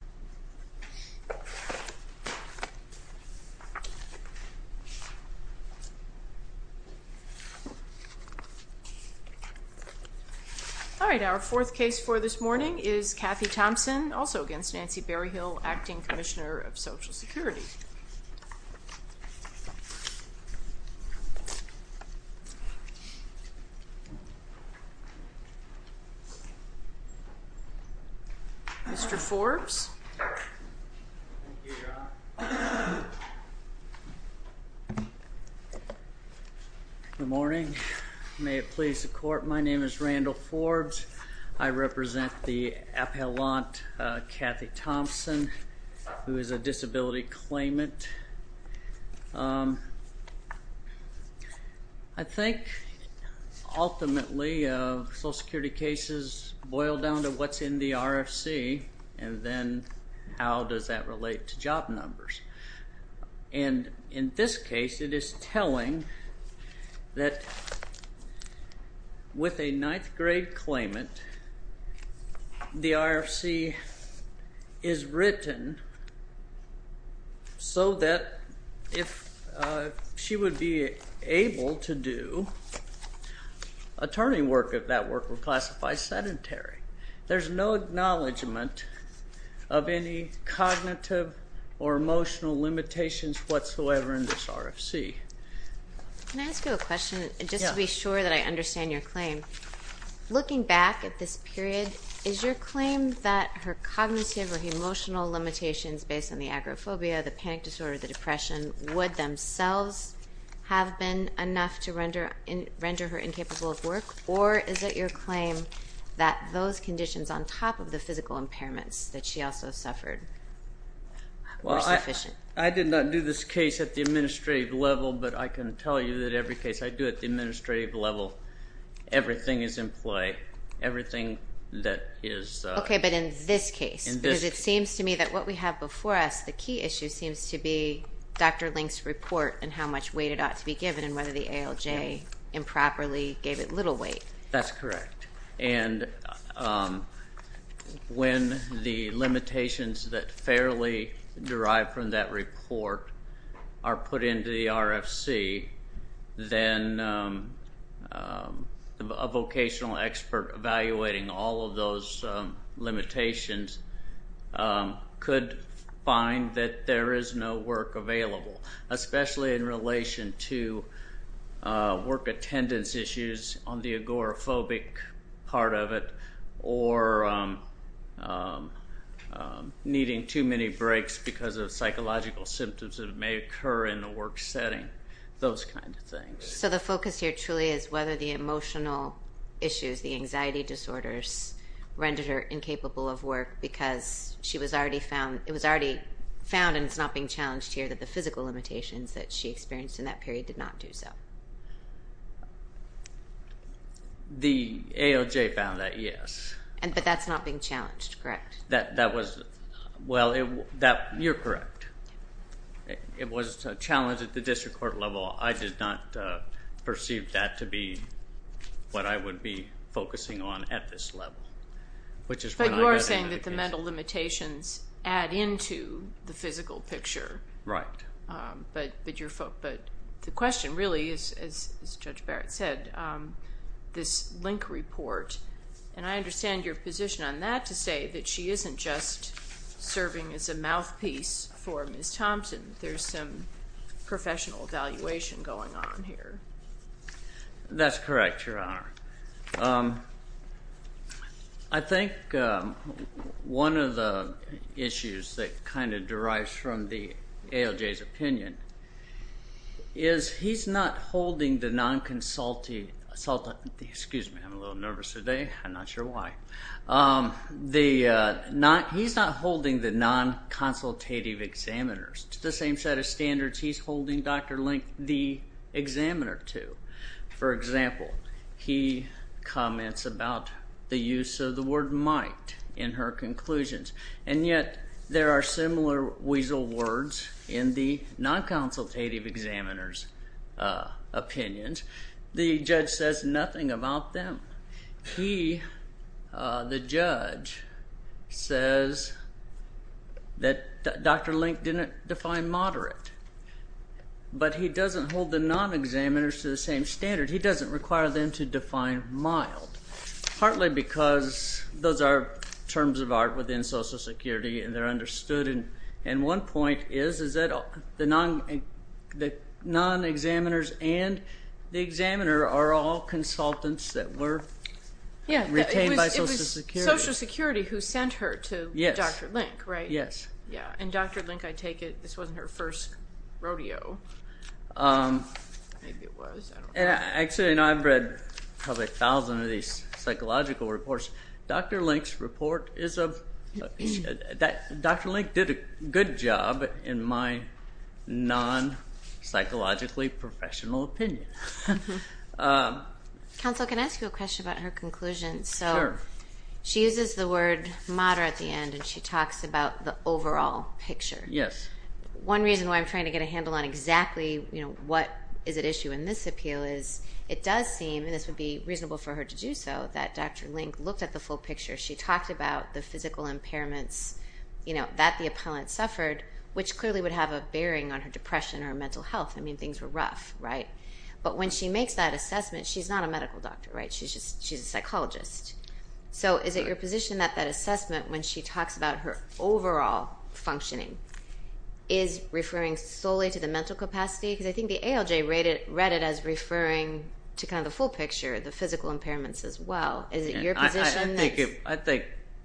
4. Kathy Thompson v. Nancy Berryhill, Acting Commissioner of Social Security Mr. Forbes? Good morning. May it please the court, my name is Randall Forbes. I represent the appellant Kathy Thompson who is a disability claimant. I think ultimately social security cases boil down to what's in the RFC and then how does that relate to job numbers. And in this case it is telling that with a 9th grade claimant the RFC is written so that if she would be able to do attorney work if that work were classified sedentary. There's no of any cognitive or emotional limitations whatsoever in this RFC. Can I ask you a question just to be sure that I understand your claim? Looking back at this period, is your claim that her cognitive or emotional limitations based on the agoraphobia, the panic disorder, the depression would themselves have been enough to render her incapable of work or is it your claim that those conditions on top of the physical impairments that she also suffered were sufficient? I did not do this case at the administrative level but I can tell you that every case I do at the administrative level everything is in play. Okay but in this case, because it seems to me that what we have before us, the key issue seems to be Dr. Link's report and how much weight it ought to be given and whether the ALJ improperly gave it little weight. That's correct and when the limitations that fairly derive from that report are put into the RFC then a vocational expert evaluating all of those limitations could find that there is no work available, especially in relation to work attendance issues on the agoraphobic part of it or needing too many breaks because of psychological symptoms that may occur in the work setting, those kind of things. So the focus here truly is whether the emotional issues, the anxiety disorders rendered her incapable of work because it was already found and it's not being challenged here that the physical limitations that she experienced in that period did not do so. The ALJ found that, yes. But that's not being challenged, correct? You're correct. It was challenged at the district court level. I did not perceive that to be what I would be focusing on at this level. But you are saying that the mental limitations add into the physical picture but the question really is, as Judge Barrett said, this link report and I understand your position on that to say that she isn't just serving as a mouthpiece for Ms. Thompson. There's some professional evaluation going on here. That's correct, Your Honor. I think one of the issues that kind of derives from the ALJ's opinion is he's not holding the non-consulting, excuse me, I'm a little nervous today. I'm not sure why. He's not holding the non-consultative examiners. It's the same set of standards he's holding Dr. Link, the examiner, to. For example, he comments about the use of the word might in her conclusions and yet there are similar weasel words in the non-consultative examiners' opinions. The judge says nothing about them. He, the judge, says that Dr. Link didn't define moderate but he doesn't hold the non-examiners to the same standard. He doesn't require them to define mild. Partly because those are terms of art within Social Security and they're understood and one point is that the non-examiners and the examiner are all consultants that were retained by Social Security. It was Social Security who actually, you know, I've read probably a thousand of these psychological reports. Dr. Link's report is, Dr. Link did a good job in my non-psychologically professional opinion. Counsel, can I ask you a question about her conclusion? Sure. So she uses the word moderate at the end and she talks about the overall picture. Yes. One reason why I'm trying to get a handle on exactly, you know, what is at issue in this appeal is it does seem, and this would be reasonable for her to do so, that Dr. Link looked at the full picture. She talked about the physical impairments, you know, that the appellant suffered, which clearly would have a bearing on her depression or mental health. I mean, things were rough, right? But when she makes that assessment, she's not a medical doctor, right? She's just, she's a psychologist. So is it your position that that assessment, when she talks about her overall functioning, is referring solely to the mental capacity? Because I think the ALJ read it as referring to kind of the full picture, the physical impairments as well. Is it your position? I think,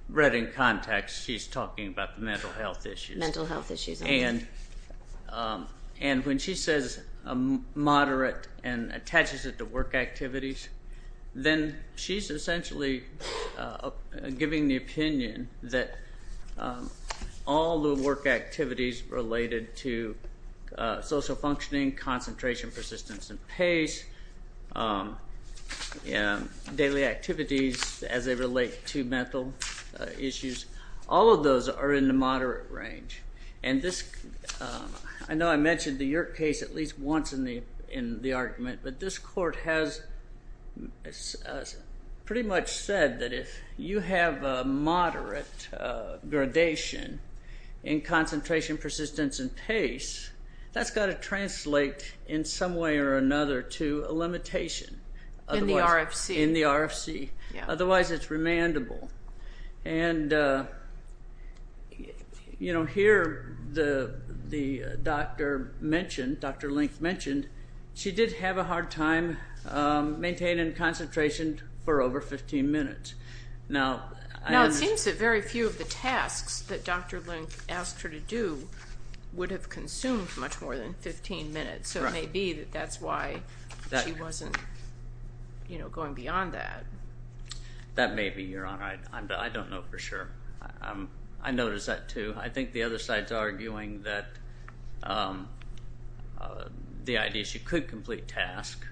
read in context, she's talking about the mental health issues. Mental health issues. And when she says moderate and attaches it to work activities, then she's essentially giving the opinion that all the work activities related to social functioning, concentration, persistence, and pace, daily activities as they relate to mental issues, all of those are in the moderate range. And this, I know I mentioned the Yerk case at least once in the argument, but this court has pretty much said that if you have a moderate gradation in concentration, that would translate in some way or another to a limitation. In the RFC? In the RFC. Otherwise, it's remandable. And, you know, here the doctor mentioned, Dr. Link mentioned, she did have a hard time maintaining concentration for over 15 minutes. Now, it seems that very few of the tasks that Dr. Link asked her to do would have consumed much more than 15 minutes. So it may be that that's why she wasn't, you know, going beyond that. That may be, Your Honor. I don't know for sure. I noticed that too. I think the other side's arguing that the idea she could complete tasks.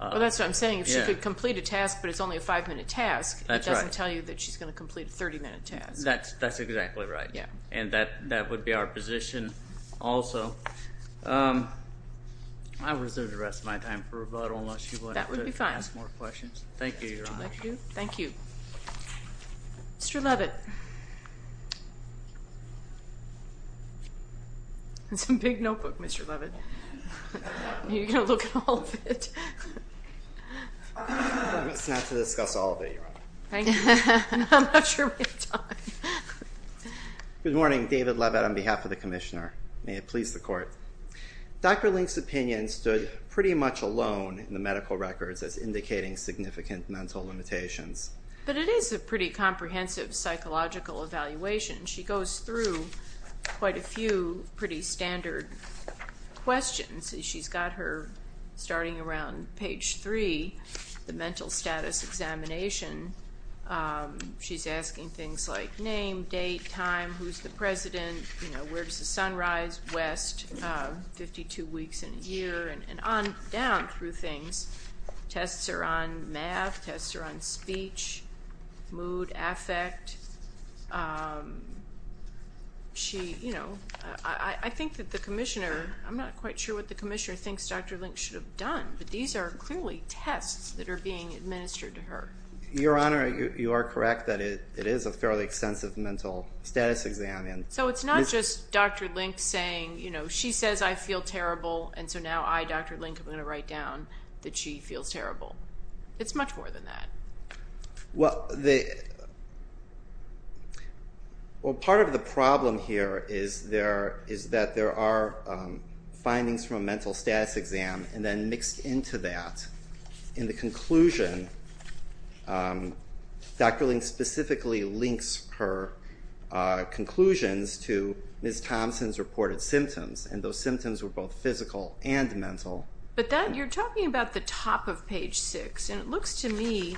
Well, that's what I'm saying. If she could complete a task, but it's only a five-minute task, it doesn't tell you that she's going to complete a 30-minute task. That's exactly right. Yeah. And that would be our position also. I will reserve the rest of my time for rebuttal, unless you want to ask more questions. Thank you, Your Honor. Thank you. Mr. Leavitt. It's a big notebook, Mr. Leavitt. You're going to look at all of it. It's not to discuss all of it, Your Honor. Thank you. I'm not sure we have time. Good morning. David Leavitt on behalf of the Commissioner. May it please the Court. Dr. Link's opinion stood pretty much alone in the medical records as indicating significant mental limitations. But it is a pretty comprehensive psychological evaluation. She goes through quite a few pretty standard questions. She's got her, starting around page three, the mental status examination. She's asking things like name, date, time, who's the president, where does the sun rise, west, 52 weeks in a year, and on down through things. Tests are on math, tests are on speech, mood, affect. She, you know, I think that the Commissioner, I'm not quite sure what the Commissioner thinks Dr. Link should have done, but these are clearly tests that are being administered to her. Your Honor, you are correct that it is a fairly extensive mental status exam. So it's not just Dr. Link saying, you know, I'm going to write down that she feels terrible. It's much more than that. Well, part of the problem here is that there are findings from a mental status exam and then mixed into that. In the conclusion, Dr. Link specifically links her conclusions to Ms. Thompson's reported symptoms, and those symptoms were both physical and mental. But then you're talking about the top of page six, and it looks to me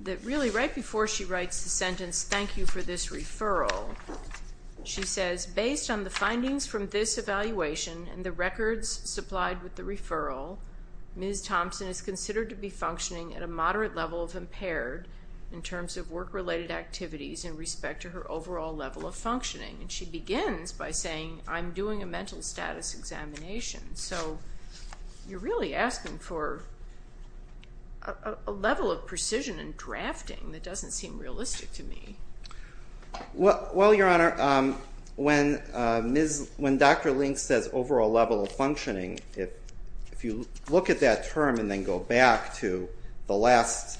that really right before she writes the sentence, thank you for this referral, she says, based on the findings from this evaluation and the records supplied with the referral, Ms. Thompson is considered to be functioning at a moderate level of performance by saying, I'm doing a mental status examination. So you're really asking for a level of precision and drafting that doesn't seem realistic to me. Well, Your Honor, when Dr. Link says overall level of functioning, if you look at that term and then go back to the last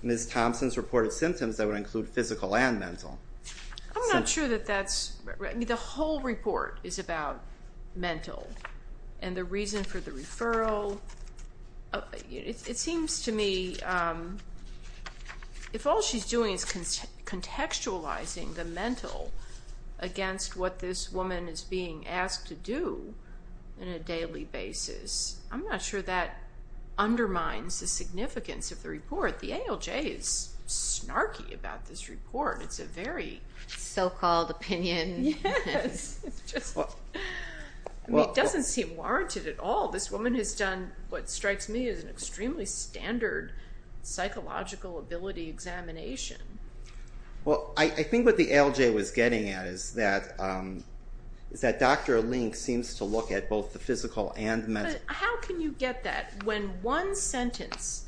Ms. Thompson's reported symptoms, that would include physical and mental. I'm not sure that that's right. The whole report is about mental and the reason for the referral. It seems to me if all she's doing is contextualizing the mental against what this woman is being asked to do on a daily basis, I'm not sure that undermines the significance of the report. The ALJ is snarky about this report. It's a very so-called opinion. It doesn't seem warranted at all. This woman has done what strikes me as an extremely standard psychological ability examination. Well, I think what the ALJ was getting at is that Dr. Link seems to look at both the physical and mental. How can you get that when one sentence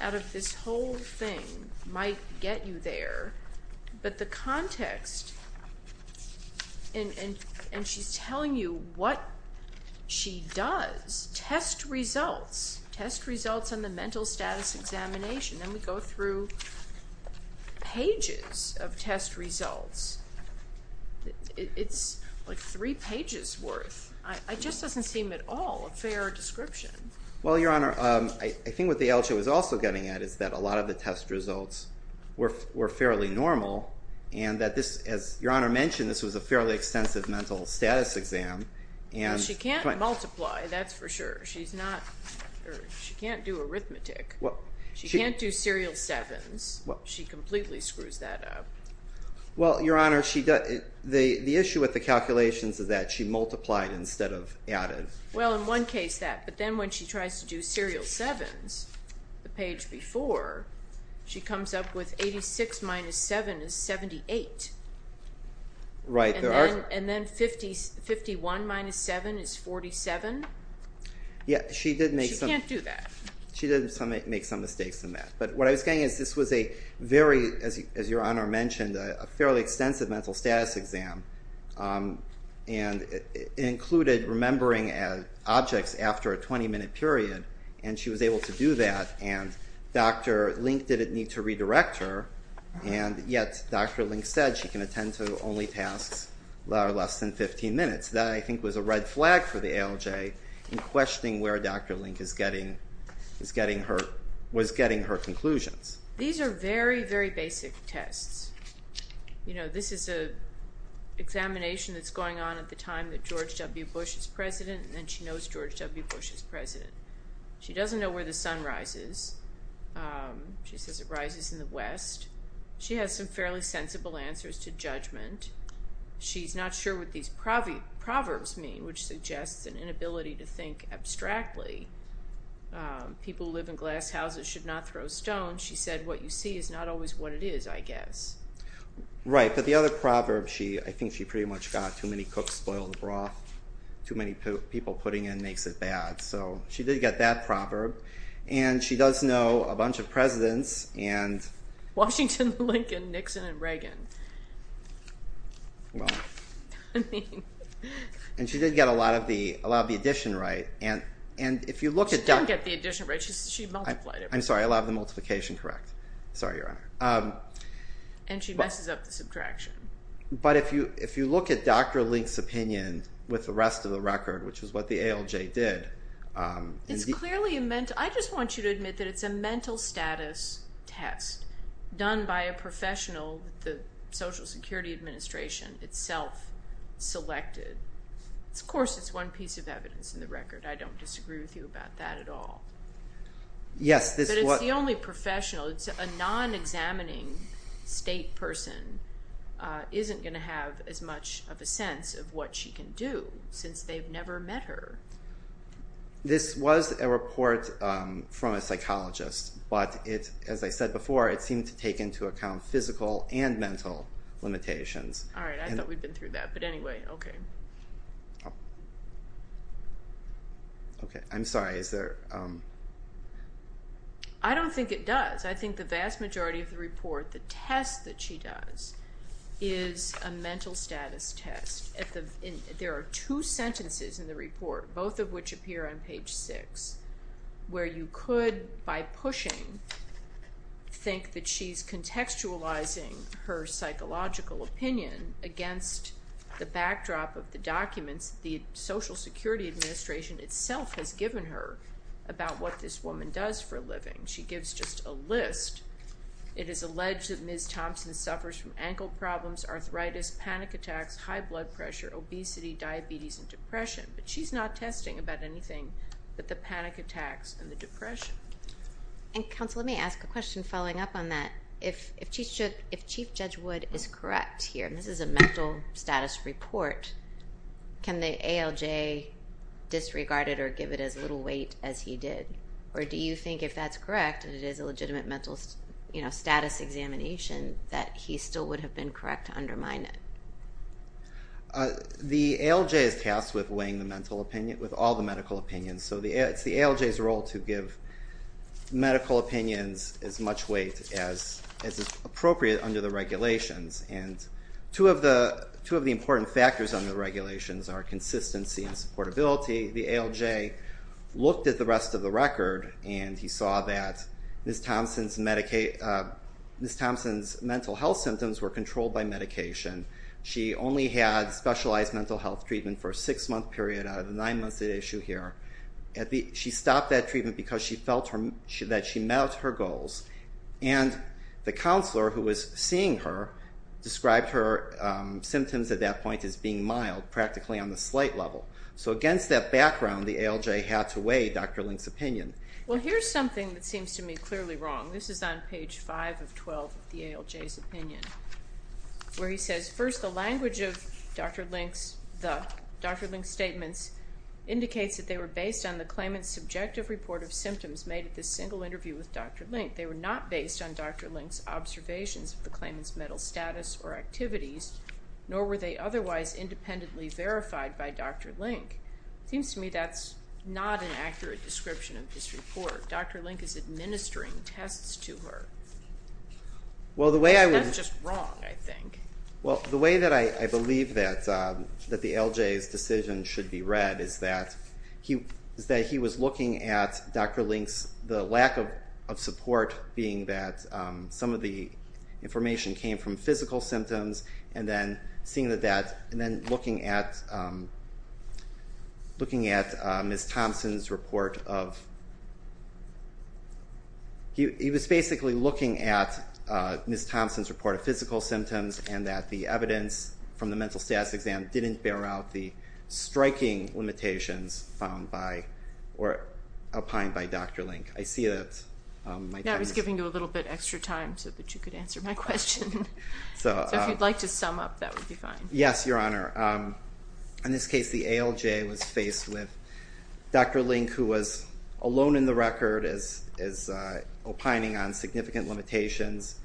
out of this whole thing might get you there, but the context, and she's telling you what she does, test results on the mental status examination, and we go through pages of test results. It's like three pages worth. It just doesn't seem at all a fair description. Well, Your Honor, I think what the ALJ was also getting at is that a lot of the test results were fairly normal and that this, as Your Honor mentioned, this was a fairly extensive She can't multiply, that's for sure. She can't do arithmetic. She can't do serial sevens. She completely screws that up. Well, Your Honor, the issue with the calculations is that she multiplied instead of added. Well, in one case that, but then when she tries to do serial sevens, the page before, she comes up with 86 minus 7 is 78, and then 51 minus 7 is 47. She can't do that. She did make some mistakes in that, but what I was getting at is this was a very, as Your Honor mentioned, a fairly extensive mental status exam, and it included remembering objects after a 20-minute period, and she was able to do that, and Dr. Link didn't need to redirect her, and yet Dr. Link said she can attend to only tasks that are less than 15 minutes. That, I think, was a red flag for the ALJ in questioning where Dr. Link was getting her conclusions. These are very, very basic tests. This is an examination that's going on at the time that George W. Bush is president, and then she knows George W. Bush is president. She doesn't know where the sun rises. She says it rises in the west. She has some fairly sensible answers to judgment. She's not sure what these proverbs mean, which suggests an inability to think abstractly. People who live in glass houses should not throw stones. She said what you see is not always what it is, I guess. Right, but the other proverb, I think she pretty much got, too many cooks spoil the broth. Too many people putting in makes it bad, so she did get that proverb, and she does know a bunch of presidents and – Washington, Lincoln, Nixon, and Reagan. Well – I mean – And she did get a lot of the addition right, and if you look at – She did get the addition right. She multiplied it. And she messes up the subtraction. But if you look at Dr. Link's opinion with the rest of the record, which is what the ALJ did – It's clearly a – I just want you to admit that it's a mental status test done by a professional that the Social Security Administration itself selected. Of course it's one piece of evidence in the record. I don't disagree with you about that at all. Yes, this – But it's the only professional. A non-examining state person isn't going to have as much of a sense of what she can do, since they've never met her. This was a report from a psychologist, but it, as I said before, it seemed to take into account physical and mental limitations. All right, I thought we'd been through that, but anyway, okay. Okay, I'm sorry. Is there – I don't think it does. I think the vast majority of the report, the test that she does is a mental status test. There are two sentences in the report, both of which appear on page six, where you could, by pushing, think that she's contextualizing her psychological opinion against the backdrop of the documents the Social Security Administration itself has given her about what this woman does for a living. She gives just a list. It is alleged that Ms. Thompson suffers from ankle problems, arthritis, panic attacks, high blood pressure, obesity, diabetes, and depression, but she's not testing about anything but the panic attacks and the depression. And counsel, let me ask a question following up on that. If Chief Judge Wood is correct here, and this is a mental status report, can the ALJ disregard it or give it as little weight as he did? Or do you think if that's correct, and it is a legitimate mental status examination, that he still would have been correct to undermine it? The ALJ is tasked with weighing the mental opinion, with all the medical opinions, so it's the ALJ's role to give medical opinions as much weight as is appropriate under the regulations. And two of the important factors under the regulations are consistency and supportability. The ALJ looked at the rest of the record and he saw that Ms. Thompson's mental health symptoms were controlled by medication. She only had specialized mental health treatment for a six-month period out of the nine months at issue here. She stopped that treatment because she felt that she met her goals. And the counselor who was seeing her described her symptoms at that point as being mild, practically on the slight level. So against that background, the ALJ had to weigh Dr. Link's opinion. Well, here's something that seems to me clearly wrong. This is on page 5 of 12 of the ALJ's opinion, where he says, First, the language of Dr. Link's statements indicates that they were based on the claimant's subjective report of symptoms made at this single interview with Dr. Link. They were not based on Dr. Link's observations of the claimant's mental status or activities, nor were they otherwise independently verified by Dr. Link. It seems to me that's not an accurate description of this report. Dr. Link is administering tests to her. That's just wrong, I think. Well, the way that I believe that the ALJ's decision should be read is that he was looking at Dr. Link's, the lack of support being that some of the information came from physical symptoms, and then looking at Ms. Thompson's report of physical symptoms, and that the evidence from the mental status exam didn't bear out the striking limitations found by or opined by Dr. Link. I see that my time is up. I was giving you a little bit extra time so that you could answer my question. So if you'd like to sum up, that would be fine. Yes, Your Honor. In this case, the ALJ was faced with Dr. Link, who was alone in the record, as opining on significant limitations.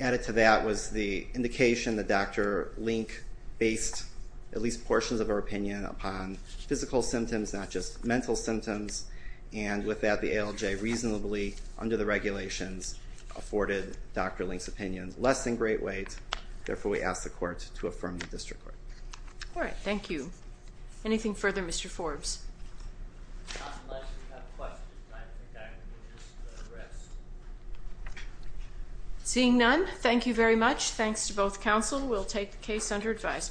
Added to that was the indication that Dr. Link based at least portions of her opinion upon physical symptoms, not just mental symptoms. And with that, the ALJ reasonably, under the regulations, afforded Dr. Link's opinion less than great weight. Therefore, we ask the court to affirm the district court. All right. Thank you. Anything further, Mr. Forbes? Unless you have questions, I think I can just address. Seeing none, thank you very much. Thanks to both counsel. We'll take the case under advisement.